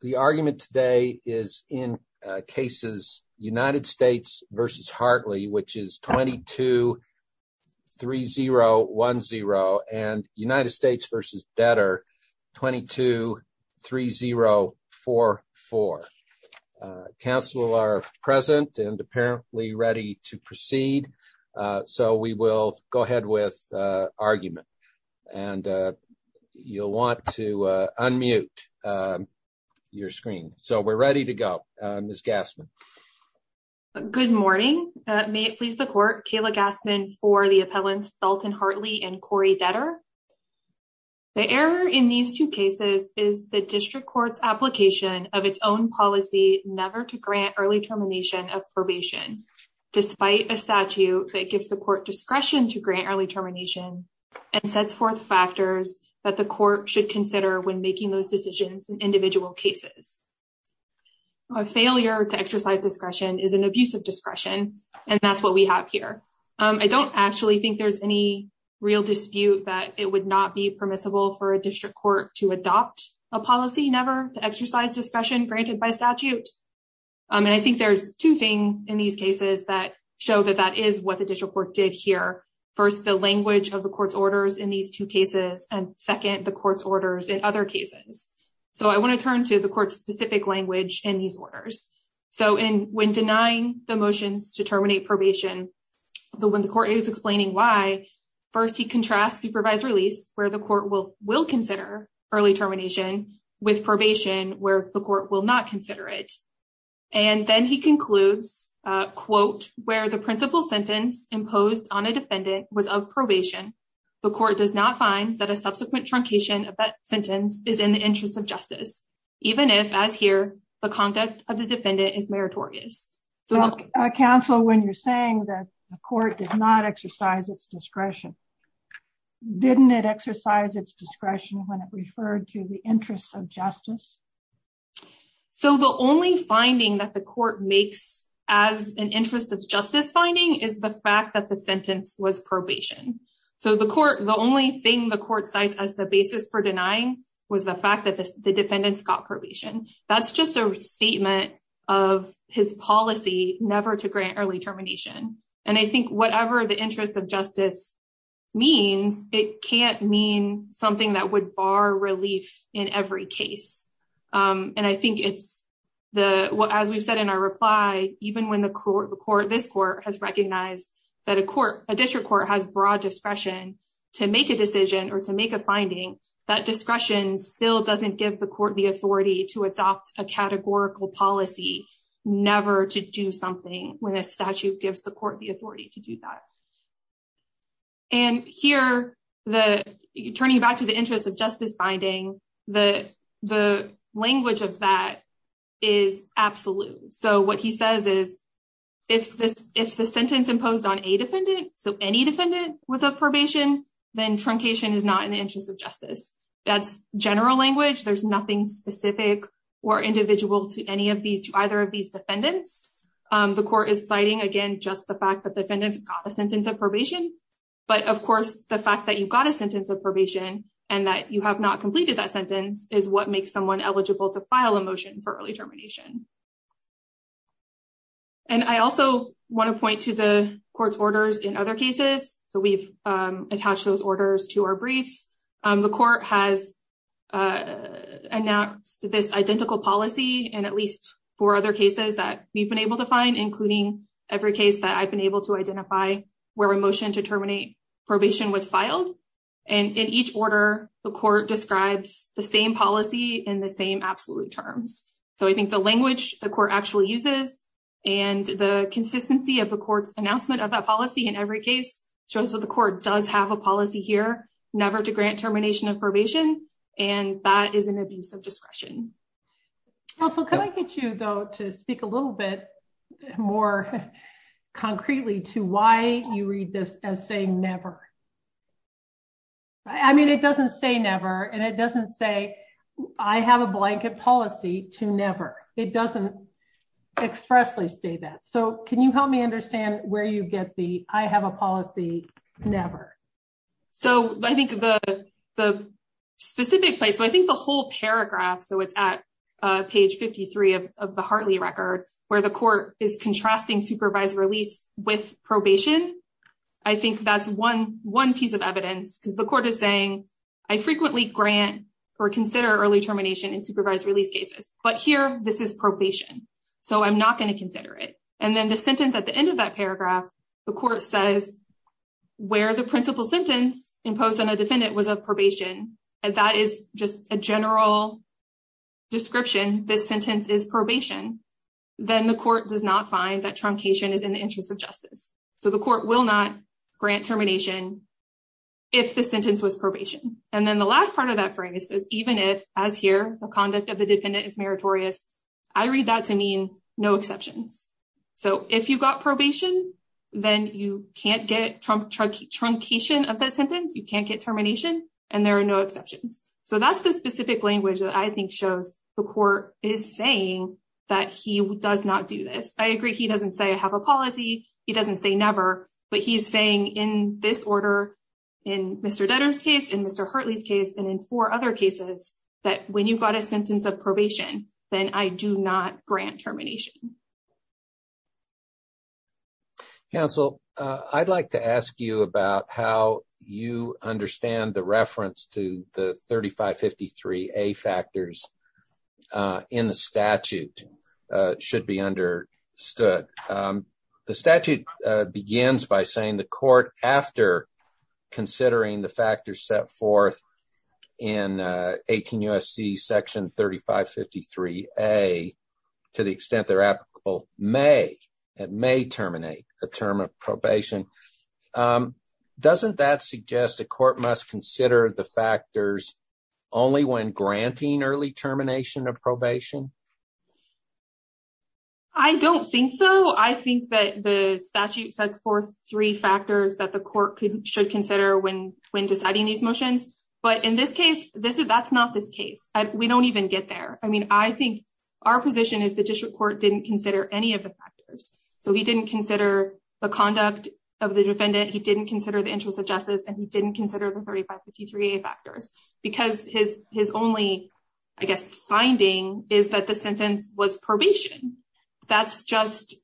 The argument today is in cases United States versus Hartley, which is 22 3 0 1 0 and United States versus debtor 22 3 0 4 4 Council are present and apparently ready to proceed so we will go ahead with argument and You'll want to unmute Your screen, so we're ready to go miss Gassman Good morning, may it please the court Kayla Gassman for the appellants Dalton Hartley and Corey debtor The error in these two cases is the district courts application of its own policy never to grant early termination of probation Despite a statute that gives the court discretion to grant early termination Sets forth factors that the court should consider when making those decisions in individual cases a Failure to exercise discretion is an abuse of discretion and that's what we have here I don't actually think there's any Real dispute that it would not be permissible for a district court to adopt a policy never to exercise discretion granted by statute And I think there's two things in these cases that show that that is what the district court did here First the language of the court's orders in these two cases and second the court's orders in other cases So I want to turn to the court's specific language in these orders So in when denying the motions to terminate probation, but when the court is explaining why first he contrasts supervised release where the court will will consider early termination with probation where the court will not consider it and Then he concludes Quote where the principal sentence imposed on a defendant was of probation The court does not find that a subsequent truncation of that sentence is in the interest of justice Even if as here the conduct of the defendant is meritorious Counsel when you're saying that the court did not exercise its discretion Didn't it exercise its discretion when it referred to the interests of justice? So the only finding that the court makes as an interest of justice finding is the fact that the sentence was probation So the court the only thing the court cites as the basis for denying was the fact that the defendants got probation that's just a statement of His policy never to grant early termination, and I think whatever the interest of justice Means it can't mean something that would bar relief in every case and I think it's The what as we've said in our reply even when the court the court this court has recognized That a court a district court has broad discretion to make a decision or to make a finding that discretion Still doesn't give the court the authority to adopt a categorical policy never to do something when a statute gives the court the authority to do that and here the turning back to the interest of justice finding the the language of that is Absolute. So what he says is if this if the sentence imposed on a defendant So any defendant was of probation then truncation is not in the interest of justice. That's general language There's nothing specific or individual to any of these to either of these defendants The court is citing again just the fact that the defendants got a sentence of probation but of course the fact that you've got a sentence of probation and that you have not completed that sentence is what makes someone eligible to file a motion for early termination and I also want to point to the court's orders in other cases. So we've attached those orders to our briefs. The court has Announced this identical policy and at least four other cases that we've been able to find including Every case that I've been able to identify where a motion to terminate Probation was filed and in each order the court describes the same policy in the same absolute terms so I think the language the court actually uses and The consistency of the court's announcement of that policy in every case shows that the court does have a policy here Never to grant termination of probation and that is an abuse of discretion Also, can I get you though to speak a little bit? more Concretely to why you read this as saying never I Mean it doesn't say never and it doesn't say I have a blanket policy to never it doesn't Expressly say that so, can you help me understand where you get the I have a policy never? so I think the the Specific place. So I think the whole paragraph So it's at page 53 of the Hartley record where the court is contrasting supervised release with probation I think that's one one piece of evidence because the court is saying I Frequently grant or consider early termination in supervised release cases, but here this is probation So I'm not going to consider it and then the sentence at the end of that paragraph the court says Where the principal sentence imposed on a defendant was of probation and that is just a general Description this sentence is probation Then the court does not find that truncation is in the interest of justice. So the court will not grant termination if The sentence was probation and then the last part of that phrase is even if as here the conduct of the dependent is meritorious I read that to mean no exceptions So if you got probation, then you can't get Trump trucky truncation of that sentence You can't get termination and there are no exceptions So that's the specific language that I think shows the court is saying that he does not do this I agree. He doesn't say I have a policy. He doesn't say never but he's saying in this order in Mr. Dutton's case in mr Hartley's case and in four other cases that when you've got a sentence of probation, then I do not grant termination You Counsel I'd like to ask you about how you understand the reference to the 3553 a factors in the statute Should be understood the statute begins by saying the court after considering the factors set forth in 18 USC section 3553 a To the extent they're applicable may it may terminate a term of probation Doesn't that suggest the court must consider the factors only when granting early termination of probation I Don't think so I think that the statute sets forth three factors that the court should consider when when deciding these motions But in this case, this is that's not this case. We don't even get there I mean, I think our position is the district court didn't consider any of the factors So he didn't consider the conduct of the defendant He didn't consider the interest of justice and he didn't consider the 3553 a factors because his his only I guess Finding is that the sentence was probation That's just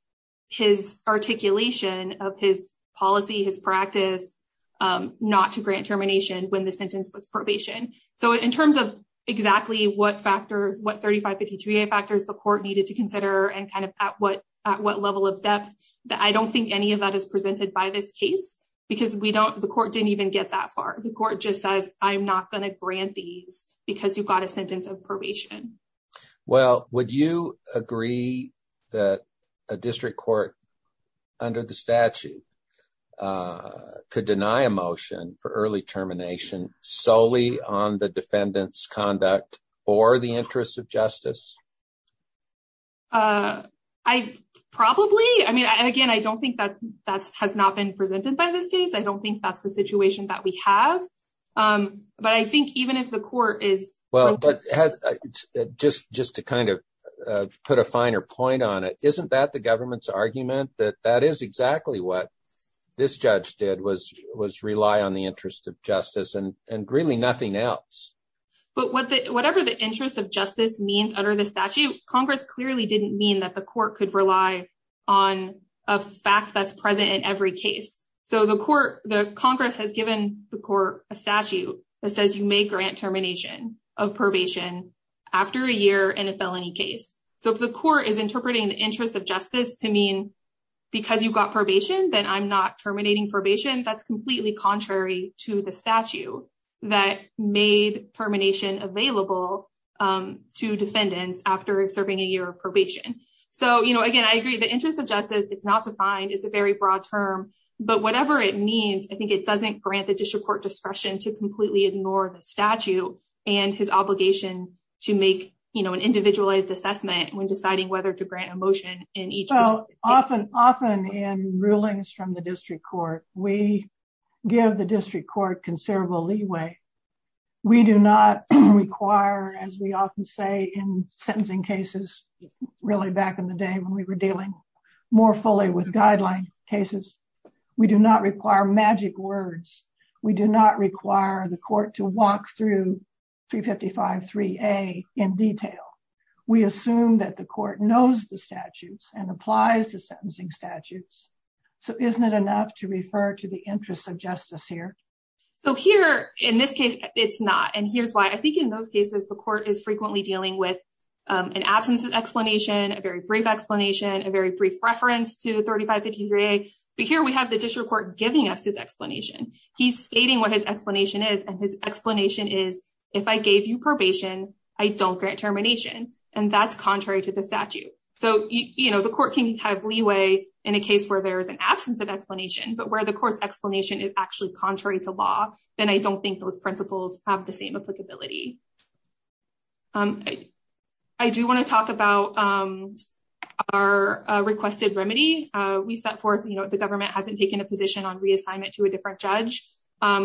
his articulation of his policy his practice Not to grant termination when the sentence was probation So in terms of exactly what factors what 3553 a factors the court needed to consider and kind of at what at what level of Depth that I don't think any of that is presented by this case Because we don't the court didn't even get that far the court just says I'm not gonna grant these Because you've got a sentence of probation Well, would you agree that a district court? under the statute Could deny a motion for early termination Solely on the defendants conduct or the interest of justice I Probably I mean again, I don't think that that has not been presented by this case. I don't think that's the situation that we have but I think even if the court is well, but Just just to kind of put a finer point on it That the government's argument that that is exactly what This judge did was was rely on the interest of justice and and really nothing else but whatever the interest of justice means under the statute Congress clearly didn't mean that the court could rely on a Fact that's present in every case So the court the Congress has given the court a statute that says you may grant termination of probation After a year in a felony case So if the court is interpreting the interest of justice to mean because you've got probation then I'm not terminating probation That's completely contrary to the statute that made termination available To defendants after serving a year of probation. So, you know again, I agree the interest of justice. It's not defined It's a very broad term But whatever it means I think it doesn't grant the district court discretion to completely ignore the statute and his obligation to make you know An individualized assessment when deciding whether to grant a motion in each. Oh often often in rulings from the district court. We Give the district court considerable leeway We do not require as we often say in sentencing cases Really back in the day when we were dealing more fully with guideline cases We do not require magic words, we do not require the court to walk through 355 3a in detail. We assume that the court knows the statutes and applies the sentencing statutes So isn't it enough to refer to the interest of justice here? So here in this case, it's not and here's why I think in those cases The court is frequently dealing with an absence of explanation a very brief explanation a very brief reference to the 3553 But here we have the district court giving us his explanation He's stating what his explanation is and his explanation is if I gave you probation I don't grant termination and that's contrary to the statute So, you know the court can have leeway in a case where there is an absence of explanation But where the court's explanation is actually contrary to law, then I don't think those principles have the same applicability I do want to talk about our Requested remedy we set forth, you know, the government hasn't taken a position on reassignment to a different judge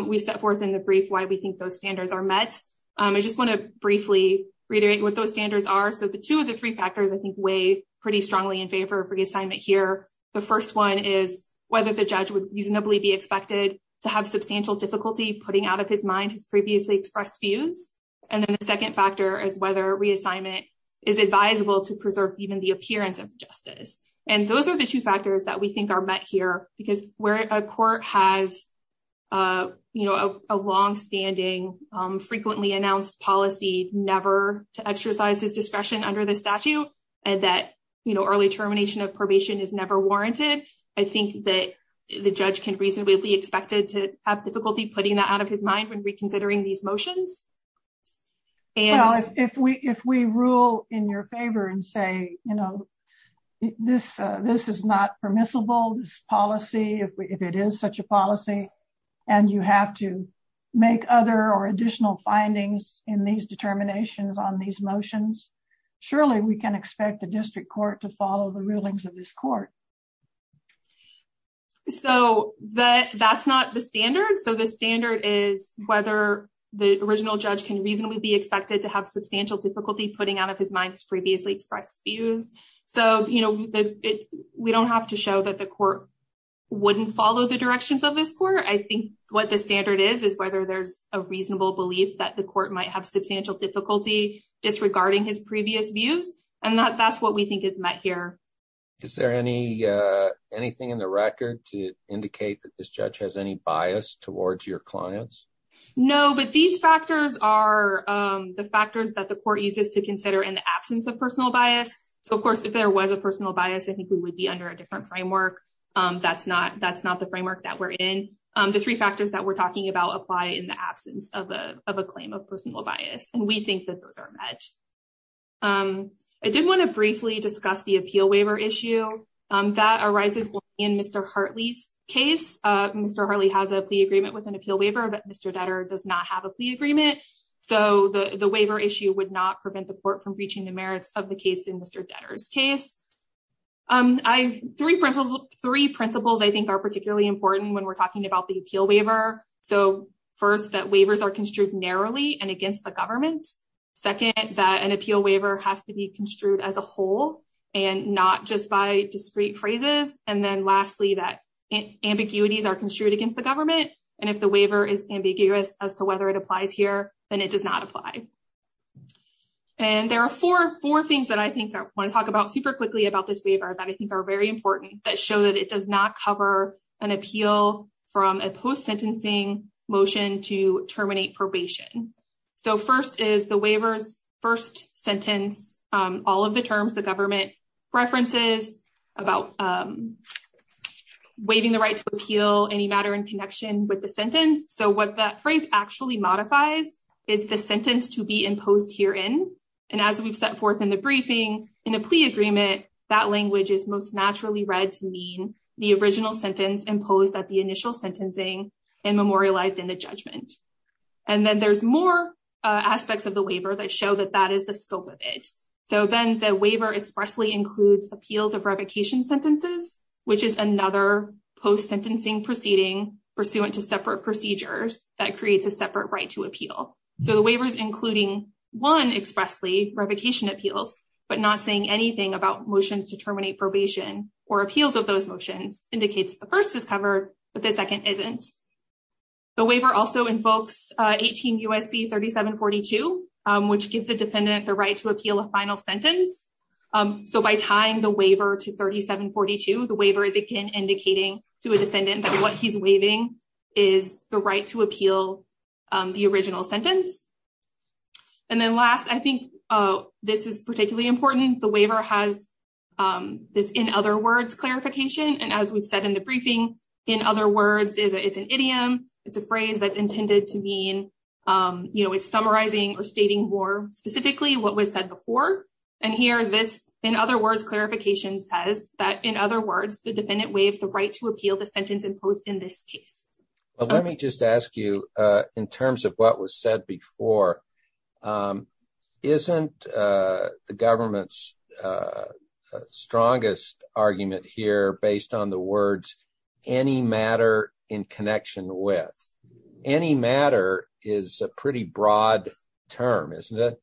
We set forth in the brief why we think those standards are met I just want to briefly reiterate what those standards are So the two of the three factors I think way pretty strongly in favor of reassignment here The first one is whether the judge would reasonably be expected to have substantial difficulty putting out of his mind He's previously expressed views. And then the second factor is whether reassignment is advisable to preserve even the appearance of justice and those are the two factors that we think are met here because we're a court has You know a long-standing Frequently announced policy never to exercise his discretion under the statute and that you know early termination of probation is never warranted I think that the judge can reasonably be expected to have difficulty putting that out of his mind when reconsidering these motions And if we if we rule in your favor and say, you know This this is not permissible this policy if it is such a policy and you have to Make other or additional findings in these determinations on these motions Surely we can expect the district court to follow the rulings of this court So that that's not the standard So the standard is whether the original judge can reasonably be expected to have substantial difficulty putting out of his mind Previously expressed views so, you know We don't have to show that the court Wouldn't follow the directions of this court I think what the standard is is whether there's a reasonable belief that the court might have substantial difficulty Disregarding his previous views and that that's what we think is met here. Is there any Anything in the record to indicate that this judge has any bias towards your clients? No, but these factors are The factors that the court uses to consider in the absence of personal bias So, of course if there was a personal bias, I think we would be under a different framework That's not that's not the framework that we're in The three factors that we're talking about apply in the absence of a of a claim of personal bias and we think that those are met I did want to briefly discuss the appeal waiver issue That arises in mr. Hartley's case. Mr. Harley has a plea agreement with an appeal waiver, but mr. Detter does not have a plea agreement So the the waiver issue would not prevent the court from breaching the merits of the case in mr. Detter's case I've three principles three principles. I think are particularly important when we're talking about the appeal waiver So first that waivers are construed narrowly and against the government second that an appeal waiver has to be construed as a whole and not just by discrete phrases and then lastly that Ambiguities are construed against the government. And if the waiver is ambiguous as to whether it applies here, then it does not apply And there are four four things that I think I want to talk about super quickly about this waiver that I think are very important That show that it does not cover an appeal from a post sentencing motion to terminate probation So first is the waivers first sentence all of the terms the government references about Waiving the right to appeal any matter in connection with the sentence So what that phrase actually modifies is the sentence to be imposed herein And as we've set forth in the briefing in a plea agreement that language is most naturally read to mean the original sentence imposed at the initial sentencing and memorialized in the judgment and then there's more Aspects of the waiver that show that that is the scope of it So then the waiver expressly includes appeals of revocation sentences Which is another post sentencing proceeding pursuant to separate procedures that creates a separate right to appeal So the waiver is including one expressly revocation appeals But not saying anything about motions to terminate probation or appeals of those motions indicates the first is covered, but the second isn't The waiver also invokes 18 USC 3742 which gives the defendant the right to appeal a final sentence so by tying the waiver to 3742 the waiver is again indicating to a defendant that what he's waiving is the right to appeal the original sentence and Then last I think oh, this is particularly important the waiver has This in other words Clarification and as we've said in the briefing in other words is it's an idiom. It's a phrase that's intended to mean You know It's summarizing or stating more specifically what was said before and here this in other words Clarification says that in other words the defendant waives the right to appeal the sentence imposed in this case Let me just ask you in terms of what was said before Isn't the government's Strongest argument here based on the words any matter in connection with Any matter is a pretty broad term, isn't it?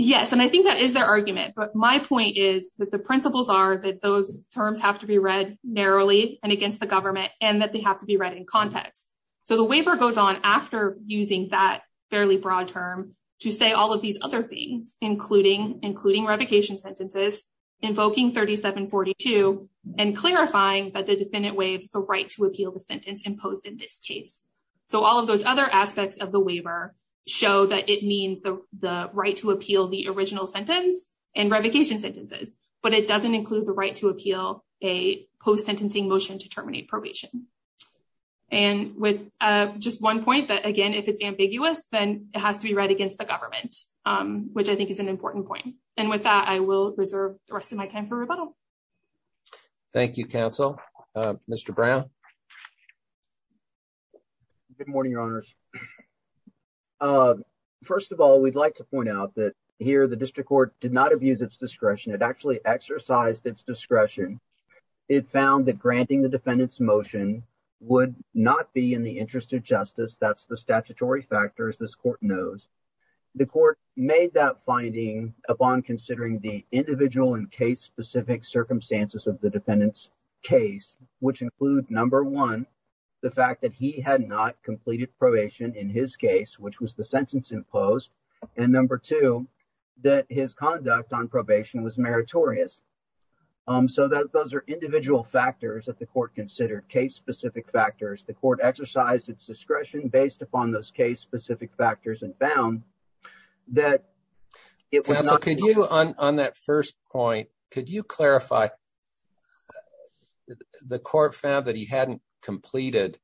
Yes, and I think that is their argument But my point is that the principles are that those terms have to be read Narrowly and against the government and that they have to be read in context So the waiver goes on after using that fairly broad term to say all of these other things Including including revocation sentences invoking 3742 and Clarifying that the defendant waives the right to appeal the sentence imposed in this case so all of those other aspects of the waiver show that it means the the right to appeal the original sentence and revocation sentences, but it doesn't include the right to appeal a post-sentencing motion to terminate probation and With just one point that again if it's ambiguous then it has to be read against the government Which I think is an important point and with that I will reserve the rest of my time for rebuttal Thank You counsel, mr. Brown Good morning, your honors First of all, we'd like to point out that here the district court did not abuse its discretion. It actually exercised its discretion It found that granting the defendant's motion would not be in the interest of justice That's the statutory factors. This court knows the court made that finding upon considering the individual and case-specific Circumstances of the defendants case which include number one The fact that he had not completed probation in his case, which was the sentence imposed and number two That his conduct on probation was meritorious So that those are individual factors that the court considered case-specific Factors the court exercised its discretion based upon those case-specific factors and found that It was on that first point. Could you clarify? The court found that he hadn't completed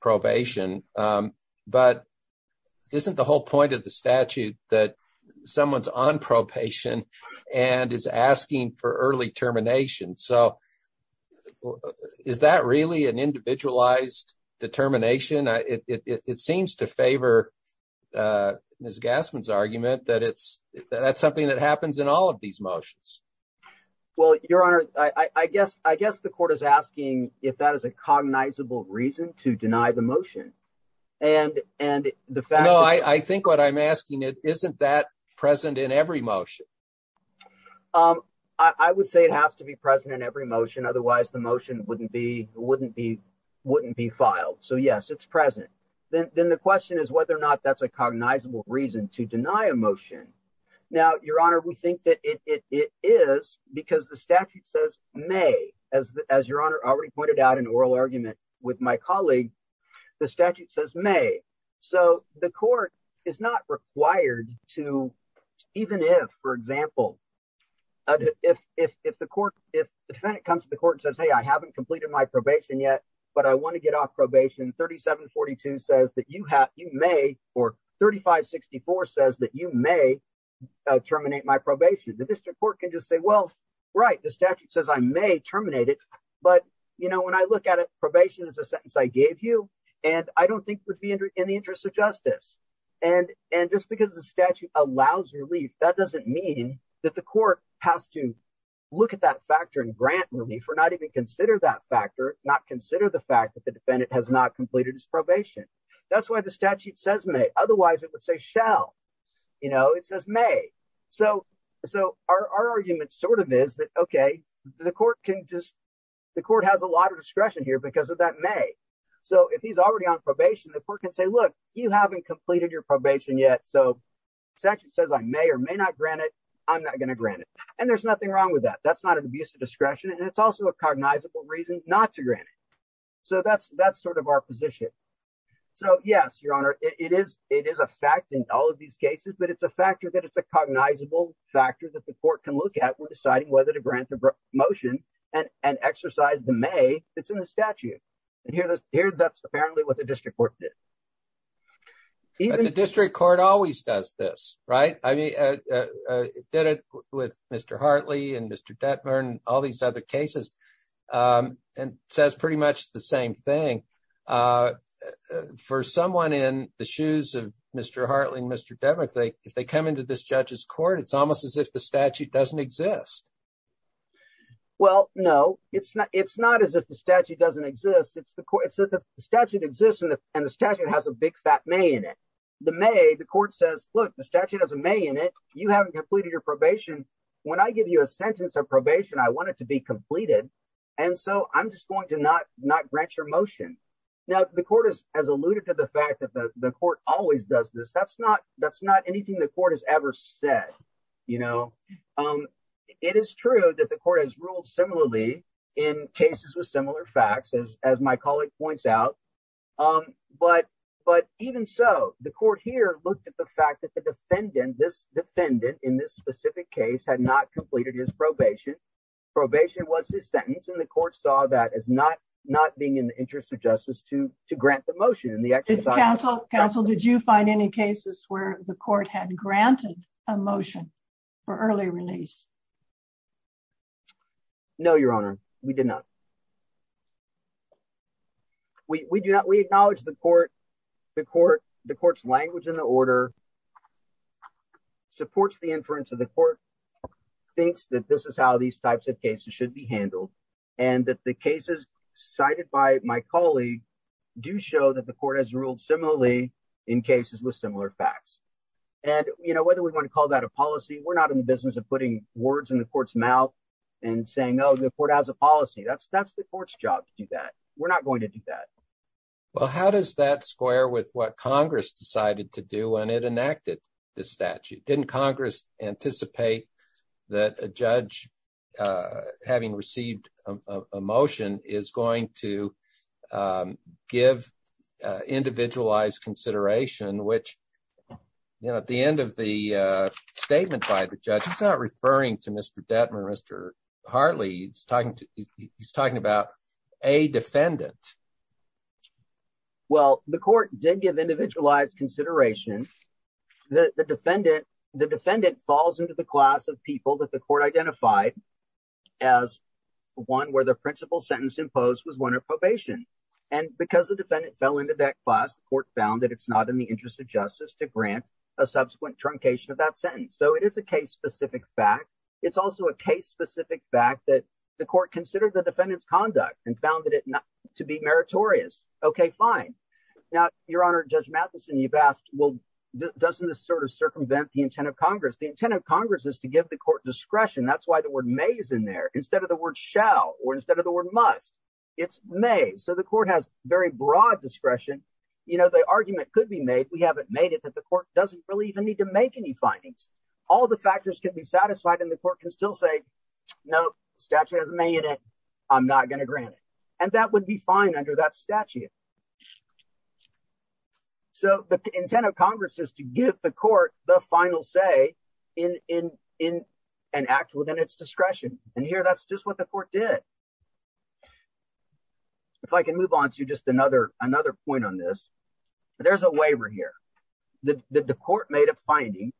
probation but Isn't the whole point of the statute that? Someone's on probation and is asking for early termination. So Is that really an individualized? Determination it seems to favor Miss Gassman's argument that it's that's something that happens in all of these motions well, your honor, I I guess I guess the court is asking if that is a cognizable reason to deny the motion and The fact I think what I'm asking it isn't that present in every motion I would say it has to be present in every motion. Otherwise, the motion wouldn't be wouldn't be wouldn't be filed So yes, it's present. Then the question is whether or not that's a cognizable reason to deny a motion now your honor We think that it is because the statute says may as as your honor already pointed out an oral argument with my colleague The statute says may so the court is not required to even if for example If if the court if the defendant comes to the court says hey, I haven't completed my probation yet but I want to get off probation 3742 says that you have you may or 3564 says that you may Terminate my probation the district court can just say well, right the statute says I may terminate it But you know when I look at it probation is a sentence I gave you and I don't think would be in the interest of justice and and just because the statute allows relief that doesn't mean that the court has to Look at that factor in grant relief or not even consider that factor not consider the fact that the defendant has not completed his probation That's why the statute says may otherwise it would say shall You know, it says may so so our argument sort of is that okay The court can just the court has a lot of discretion here because of that may So if he's already on probation the court can say look you haven't completed your probation yet. So Section says I may or may not grant it. I'm not going to grant it and there's nothing wrong with that That's not an abuse of discretion and it's also a cognizable reason not to grant it. So that's that's sort of our position So yes, your honor it is it is a fact in all of these cases But it's a factor that it's a cognizable Factor that the court can look at we're deciding whether to grant the motion and and exercise the may it's in the statute And here that's here. That's apparently what the district court did The district court always does this right? I mean Did it with mr. Hartley and mr. Detmer and all these other cases? And says pretty much the same thing For someone in the shoes of mr. Hartley and mr. Detmer if they if they come into this judge's court It's almost as if the statute doesn't exist Well, no, it's not it's not as if the statute doesn't exist It's the court said that the statute exists and the statute has a big fat may in it The may the court says look the statute has a may in it You haven't completed your probation when I give you a sentence of probation I want it to be completed and so I'm just going to not not grant your motion Now the court is as alluded to the fact that the court always does this that's not that's not anything The court has ever said, you know It is true that the court has ruled similarly in cases with similar facts as as my colleague points out But but even so the court here looked at the fact that the defendant this Defendant in this specific case had not completed his probation Probation was his sentence and the court saw that as not not being in the interest of justice to to grant the motion in the Council council. Did you find any cases where the court had granted a motion for early release? No, your honor we did not We do not we acknowledge the court the court the court's language in the order Supports the inference of the court Thinks that this is how these types of cases should be handled and that the cases cited by my colleague Do show that the court has ruled similarly in cases with similar facts And you know whether we want to call that a policy We're not in the business of putting words in the court's mouth and saying no the court has a policy That's that's the court's job to do that. We're not going to do that Well, how does that square with what Congress decided to do and it enacted the statute didn't Congress anticipate? that a judge having received a motion is going to give individualized consideration which you know at the end of the Statement by the judge. It's not referring to mr. Detmer. Mr. Hartley. It's talking to he's talking about a defendant Well, the court did give individualized consideration The defendant the defendant falls into the class of people that the court identified as One where the principal sentence imposed was one of probation and because the defendant fell into that class the court found that it's not in The interest of justice to grant a subsequent truncation of that sentence. So it is a case specific fact It's also a case specific fact that the court considered the defendants conduct and found that it not to be meritorious Okay, fine now your honor judge Matheson you've asked well Doesn't this sort of circumvent the intent of Congress the intent of Congress is to give the court discretion That's why the word may is in there instead of the word shall or instead of the word must it's may so the court has Very broad discretion, you know, the argument could be made We haven't made it that the court doesn't really even need to make any findings All the factors can be satisfied and the court can still say no statute has a minute I'm not going to grant it and that would be fine under that statute So the intent of Congress is to give the court the final say in In an act within its discretion and here that's just what the court did If I can move on to just another another point on this There's a waiver here the the court made a finding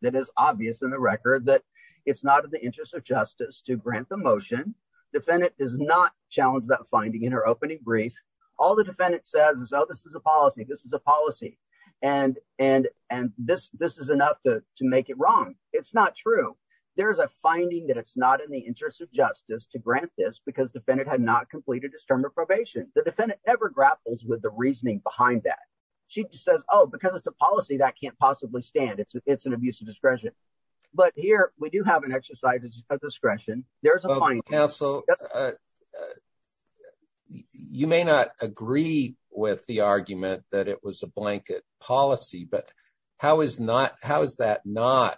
That is obvious in the record that it's not in the interest of justice to grant the motion Defendant does not challenge that finding in her opening brief. All the defendant says is oh, this is a policy This is a policy and and and this this is enough to make it wrong. It's not true There's a finding that it's not in the interest of justice to grant this because defendant had not completed a stern reprobation The defendant never grapples with the reasoning behind that. She just says oh because it's a policy that can't possibly stand It's it's an abuse of discretion But here we do have an exercise of discretion there's a point counsel You may not agree with the argument that it was a blanket policy but how is not how is that not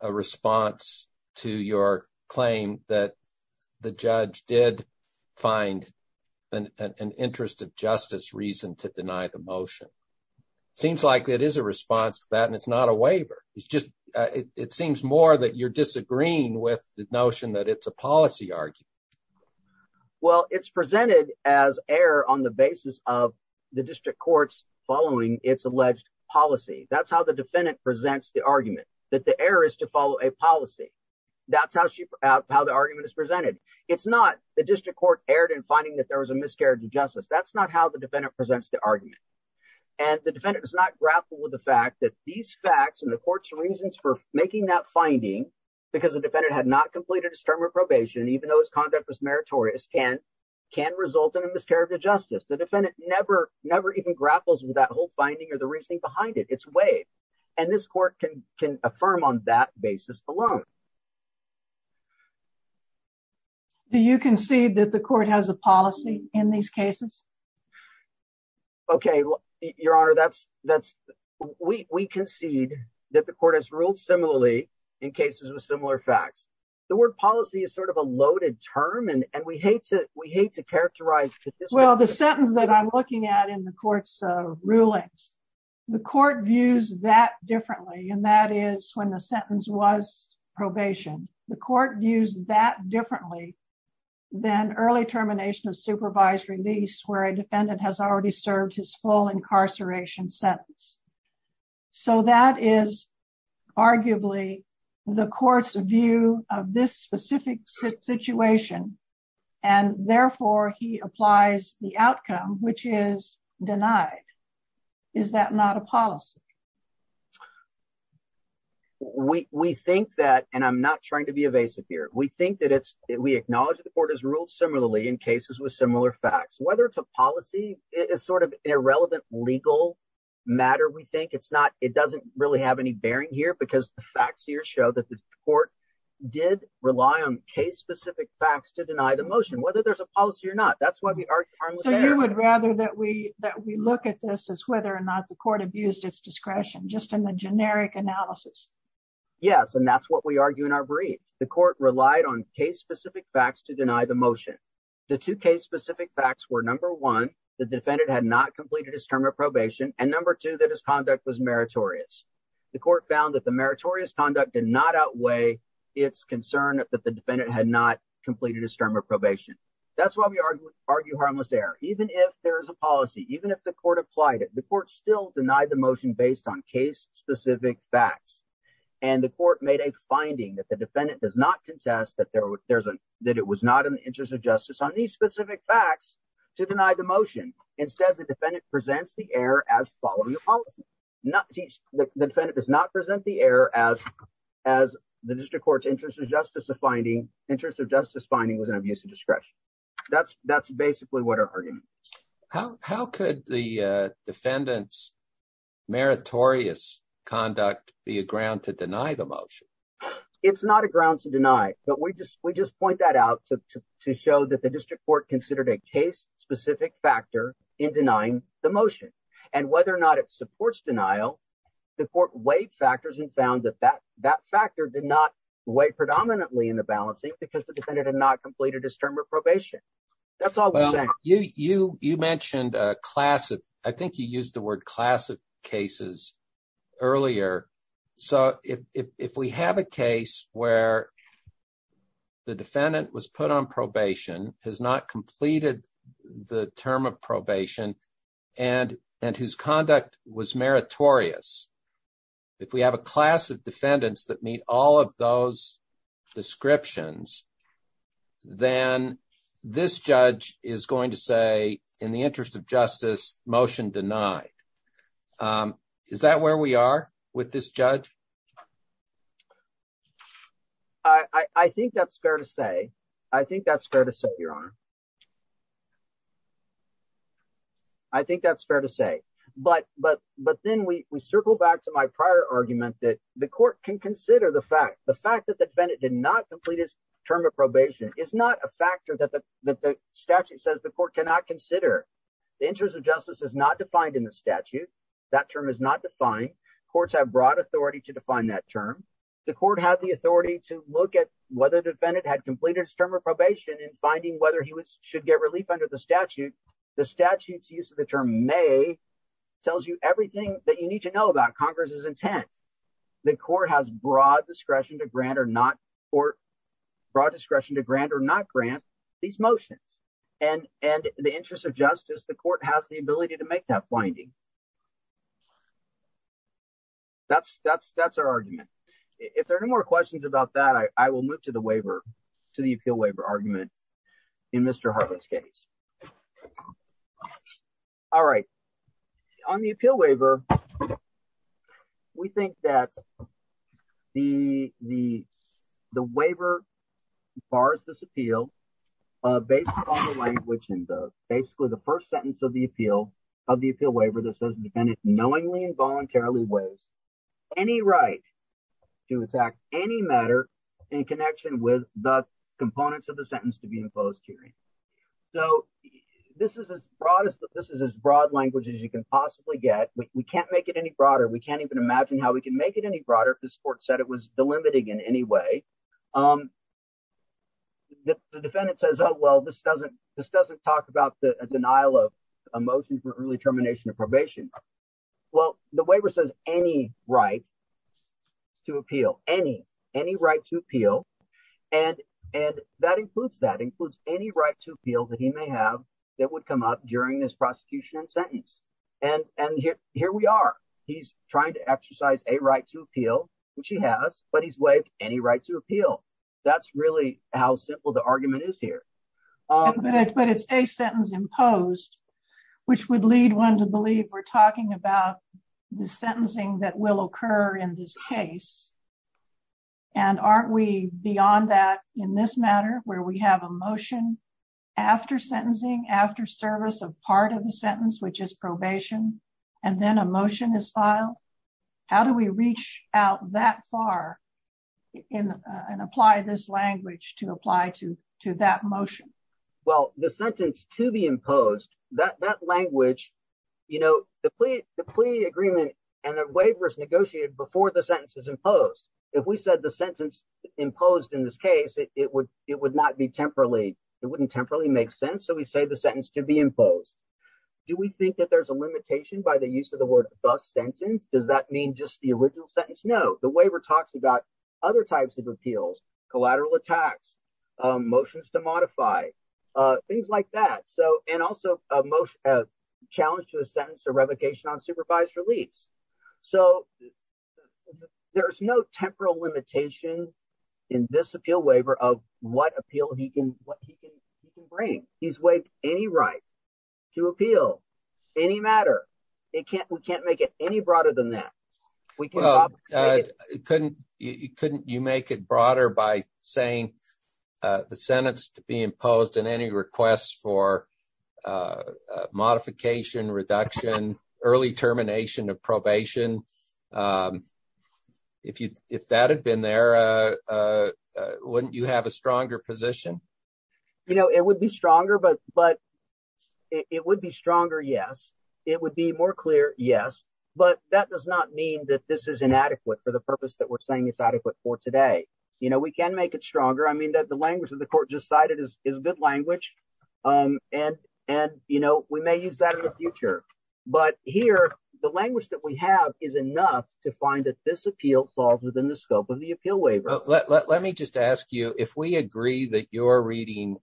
a response to your claim that the judge did find an interest of justice reason to deny the motion Seems like it is a response to that and it's not a waiver It's just it seems more that you're disagreeing with the notion that it's a policy argument Well, it's presented as error on the basis of the district courts following its alleged policy That's how the defendant presents the argument that the error is to follow a policy That's how she how the argument is presented. It's not the district court erred in finding that there was a miscarriage of justice that's not how the defendant presents the argument and The defendant does not grapple with the fact that these facts and the court's reasons for making that finding Because the defendant had not completed a stern reprobation even though his conduct was meritorious can Can result in a miscarriage of justice the defendant never never even grapples with that whole finding or the reasoning behind it It's way and this court can can affirm on that basis alone Do you concede that the court has a policy in these cases Okay, your honor. That's that's we concede that the court has ruled similarly in cases with similar facts The word policy is sort of a loaded term and and we hate to we hate to characterize Well the sentence that I'm looking at in the courts rulings The court views that differently and that is when the sentence was Probation the court views that differently Than early termination of supervised release where a defendant has already served his full incarceration sentence so that is arguably the courts view of this specific situation and Therefore he applies the outcome which is denied. Is that not a policy? We Think that and I'm not trying to be evasive here We think that it's we acknowledge that the court has ruled similarly in cases with similar facts whether it's a policy It is sort of an irrelevant legal Matter we think it's not it doesn't really have any bearing here because the facts here show that the court Did rely on case-specific facts to deny the motion whether there's a policy or not You would rather that we that we look at this as whether or not the court abused its discretion just in the generic analysis Yes, and that's what we argue in our brief The court relied on case-specific facts to deny the motion The two case-specific facts were number one The defendant had not completed his term of probation and number two that his conduct was meritorious The court found that the meritorious conduct did not outweigh its concern that the defendant had not completed his term of probation That's why we argue harmless error even if there is a policy even if the court applied it the court still denied the motion based on case-specific facts and the court made a Finding that the defendant does not contest that there was there's a that it was not in the interest of justice on these specific facts To deny the motion instead the defendant presents the error as following the policy not the defendant does not present the error as as The district court's interest in justice the finding interest of justice finding was an abuse of discretion That's that's basically what our argument. How could the defendants Meritorious conduct be a ground to deny the motion It's not a ground to deny But we just we just point that out to show that the district court considered a case Specific factor in denying the motion and whether or not it supports denial The court weighed factors and found that that that factor did not weigh predominantly in the balancing because the defendant had not completed his term Of probation, that's all you you you mentioned a class of I think you used the word class of cases earlier, so if we have a case where The defendant was put on probation has not completed the term of probation and Whose conduct was meritorious if we have a class of defendants that meet all of those descriptions Then this judge is going to say in the interest of justice motion denied Is that where we are with this judge? I? Think that's fair to say I think that's fair to say your honor. I Think that's fair to say but but but then we circle back to my prior argument that the court can consider the fact the fact that the defendant did not complete his term of probation is not a factor that the that the statute says the court cannot consider The interest of justice is not defined in the statute that term is not defined courts have broad authority to define that term. The Court had the authority to look at whether defendant had completed his term of probation and finding whether he was should get relief under the statute, the statutes use of the term may Tells you everything that you need to know about Congress's intent, the court has broad discretion to grant or not for broad discretion to grant or not grant these motions and and the interest of justice, the court has the ability to make that finding That's, that's, that's our argument. If there are no more questions about that I will move to the waiver to the appeal waiver argument in Mr. Hartman's case. All right, on the appeal waiver. We think that The, the, the waiver bars this appeal based on the language in the basically the first sentence of the appeal of the appeal waiver that's in the statute. It says the defendant knowingly involuntarily waives any right to attack any matter in connection with the components of the sentence to be imposed hearing So this is as broad as this is as broad language as you can possibly get. We can't make it any broader. We can't even imagine how we can make it any broader if this court said it was delimiting in any way. Um, The defendant says, Oh, well, this doesn't, this doesn't talk about the denial of a motion for early termination of probation. Well, the waiver says any right To appeal any any right to appeal and and that includes that includes any right to appeal that he may have that would come up during this prosecution sentence. And, and here, here we are. He's trying to exercise a right to appeal, which he has, but he's waived any right to appeal. That's really how simple the argument is here. But it's a sentence imposed, which would lead one to believe we're talking about the sentencing that will occur in this case. And aren't we beyond that in this matter where we have a motion after sentencing after service of part of the sentence, which is probation and then emotion is file. How do we reach out that far in and apply this language to apply to to that motion. Well, the sentence to be imposed that that language, you know, the plea, the plea agreement and a waiver is negotiated before the sentence is imposed. If we said the sentence. Imposed in this case, it would, it would not be temporarily, it wouldn't temporarily make sense. So we say the sentence to be imposed. Do we think that there's a limitation by the use of the word bus sentence. Does that mean just the original sentence. No, the waiver talks about other types of appeals collateral attacks. Motions to modify things like that. So, and also a motion of challenge to the sentence or revocation on supervised release. So, There's no temporal limitation in this appeal waiver of what appeal. He can what he can bring he's waived any right to appeal any matter. It can't, we can't make it any broader than that. Couldn't you couldn't you make it broader by saying the sentence to be imposed and any requests for Modification reduction early termination of probation. If you if that had been there. Wouldn't you have a stronger position. You know, it would be stronger, but, but it would be stronger. Yes, it would be more clear. Yes, but that does not mean that this is inadequate for the purpose that we're saying it's adequate for today. You know, we can make it stronger. I mean that the language of the court just cited is is good language and and, you know, we may use that in the future. But here, the language that we have is enough to find that this appeal falls within the scope of the appeal waiver. Let me just ask you, if we agree that your reading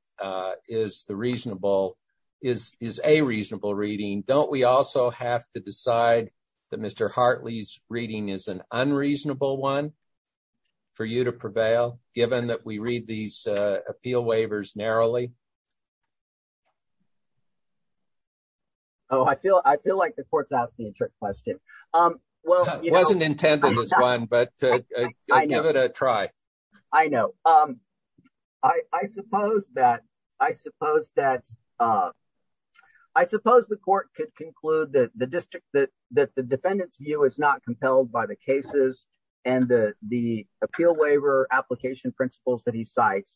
is the reasonable is is a reasonable reading. Don't we also have to decide that Mr Hartley's reading is an unreasonable one for you to prevail, given that we read these appeal waivers narrowly. Oh, I feel, I feel like the courts asked me a trick question. Well, Wasn't intended as one, but I know that a try. I know. I suppose that I suppose that I suppose the court could conclude that the district that that the defendants view is not compelled by the cases and the the appeal waiver application principles that he sites.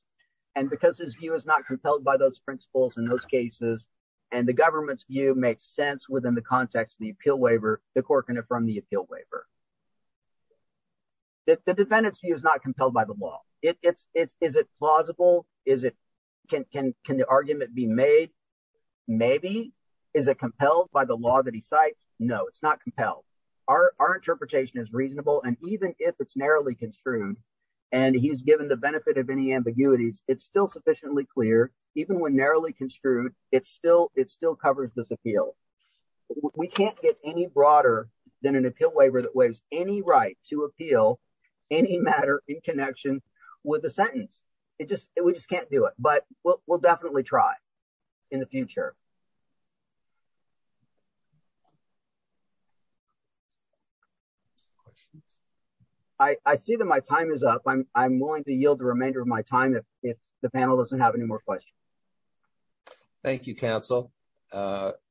And because his view is not compelled by those principles in those cases, and the government's view makes sense within the context of the appeal waiver, the court can affirm the appeal waiver. That the defendants view is not compelled by the law, it's it's is it plausible is it can can can the argument be made. Maybe is a compelled by the law that he sites no it's not compelled our interpretation is reasonable and even if it's narrowly construed. And he's given the benefit of any ambiguities it's still sufficiently clear, even when narrowly construed it's still it's still covers this appeal. We can't get any broader than an appeal waiver that was any right to appeal any matter in connection with the sentence, it just, we just can't do it, but we'll definitely try in the future. I see that my time is up i'm going to yield the remainder of my time if the panel doesn't have any more questions. Thank you counsel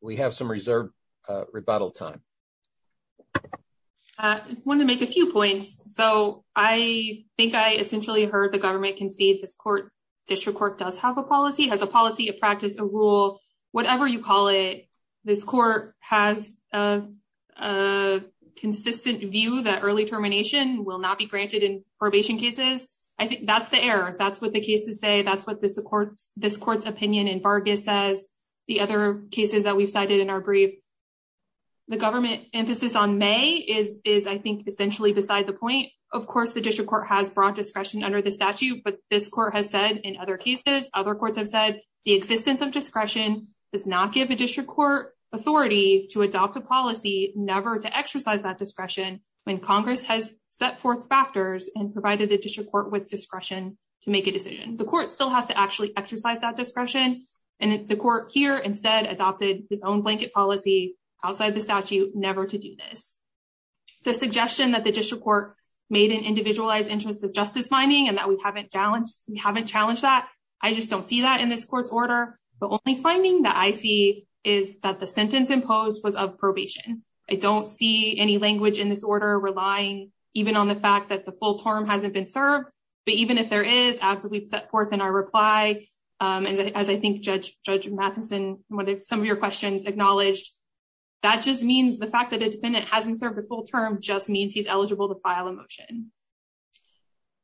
we have some reserve rebuttal time. I want to make a few points, so I think I essentially heard the government can see this court district court does have a policy has a policy of practice a rule, whatever you call it this court has a. A consistent view that early termination will not be granted in probation cases I think that's the error that's what the case to say that's what the support this court's opinion and Vargas says the other cases that we've cited in our brief. The government emphasis on may is is, I think, essentially beside the point, of course, the district court has brought discretion under the statute, but this court has said in other cases other courts have said the existence of discretion. Does not give a district court authority to adopt a policy never to exercise that discretion when Congress has set forth factors and provided the district court with discretion. To make a decision, the Court still has to actually exercise that discretion and the Court here instead adopted his own blanket policy outside the statute never to do this. The suggestion that the district court made an individualized interest of justice finding and that we haven't challenged we haven't challenged that I just don't see that in this court's order, but only finding that I see is that the sentence imposed was of probation. I don't see any language in this order, relying even on the fact that the full term hasn't been served, but even if there is absolutely set forth in our reply. As I think, judge, judge Matheson, what if some of your questions acknowledged that just means the fact that it hasn't served the full term just means he's eligible to file a motion.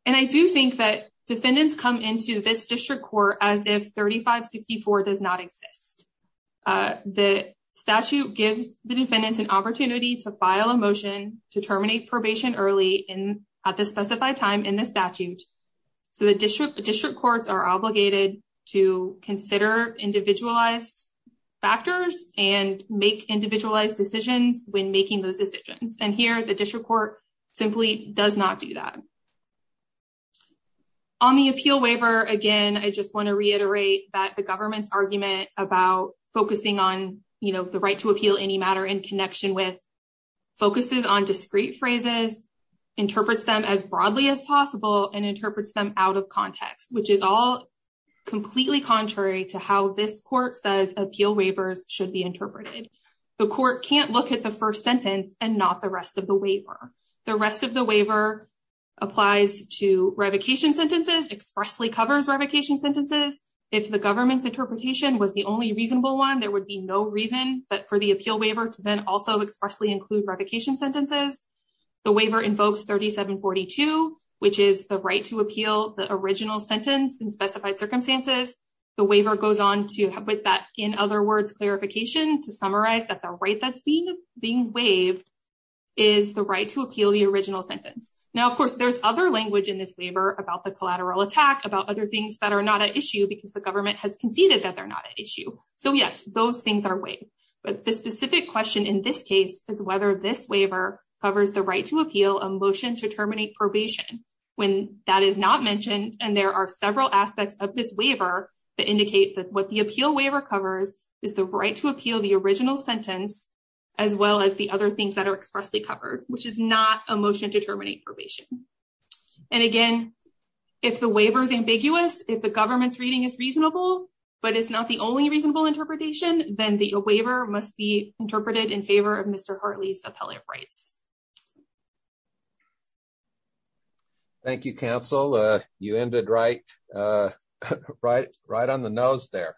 And I do think that defendants come into this district court as if 3564 does not exist. The statute gives the defendants an opportunity to file a motion to terminate probation early in at the specified time in the statute. So the district district courts are obligated to consider individualized factors and make individualized decisions when making those decisions. And here the district court simply does not do that. On the appeal waiver again, I just want to reiterate that the government's argument about focusing on the right to appeal any matter in connection with. Focuses on discrete phrases, interprets them as broadly as possible and interprets them out of context, which is all. Completely contrary to how this court says appeal waivers should be interpreted. The court can't look at the 1st sentence and not the rest of the waiver. The rest of the waiver. Applies to revocation sentences expressly covers revocation sentences. If the government's interpretation was the only reasonable 1, there would be no reason that for the appeal waiver to then also expressly include revocation sentences. The waiver invokes 3742, which is the right to appeal the original sentence and specified circumstances. The waiver goes on to have with that. In other words, clarification to summarize that the right that's being being waived. Is the right to appeal the original sentence. Now, of course, there's other language in this waiver about the collateral attack about other things that are not an issue because the government has conceded that they're not an issue. So, yes, those things are way. But the specific question in this case is whether this waiver covers the right to appeal a motion to terminate probation. When that is not mentioned, and there are several aspects of this waiver that indicate that what the appeal waiver covers is the right to appeal the original sentence. As well, as the other things that are expressly covered, which is not a motion to terminate probation. And again, if the waiver is ambiguous, if the government's reading is reasonable. But it's not the only reasonable interpretation, then the waiver must be interpreted in favor of Mr. Hartley's appellate rights. Thank you counsel you ended right right right on the nose there.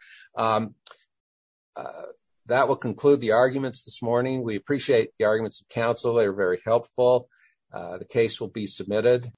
That will conclude the arguments this morning. We appreciate the arguments of counsel. They're very helpful. The case will be submitted.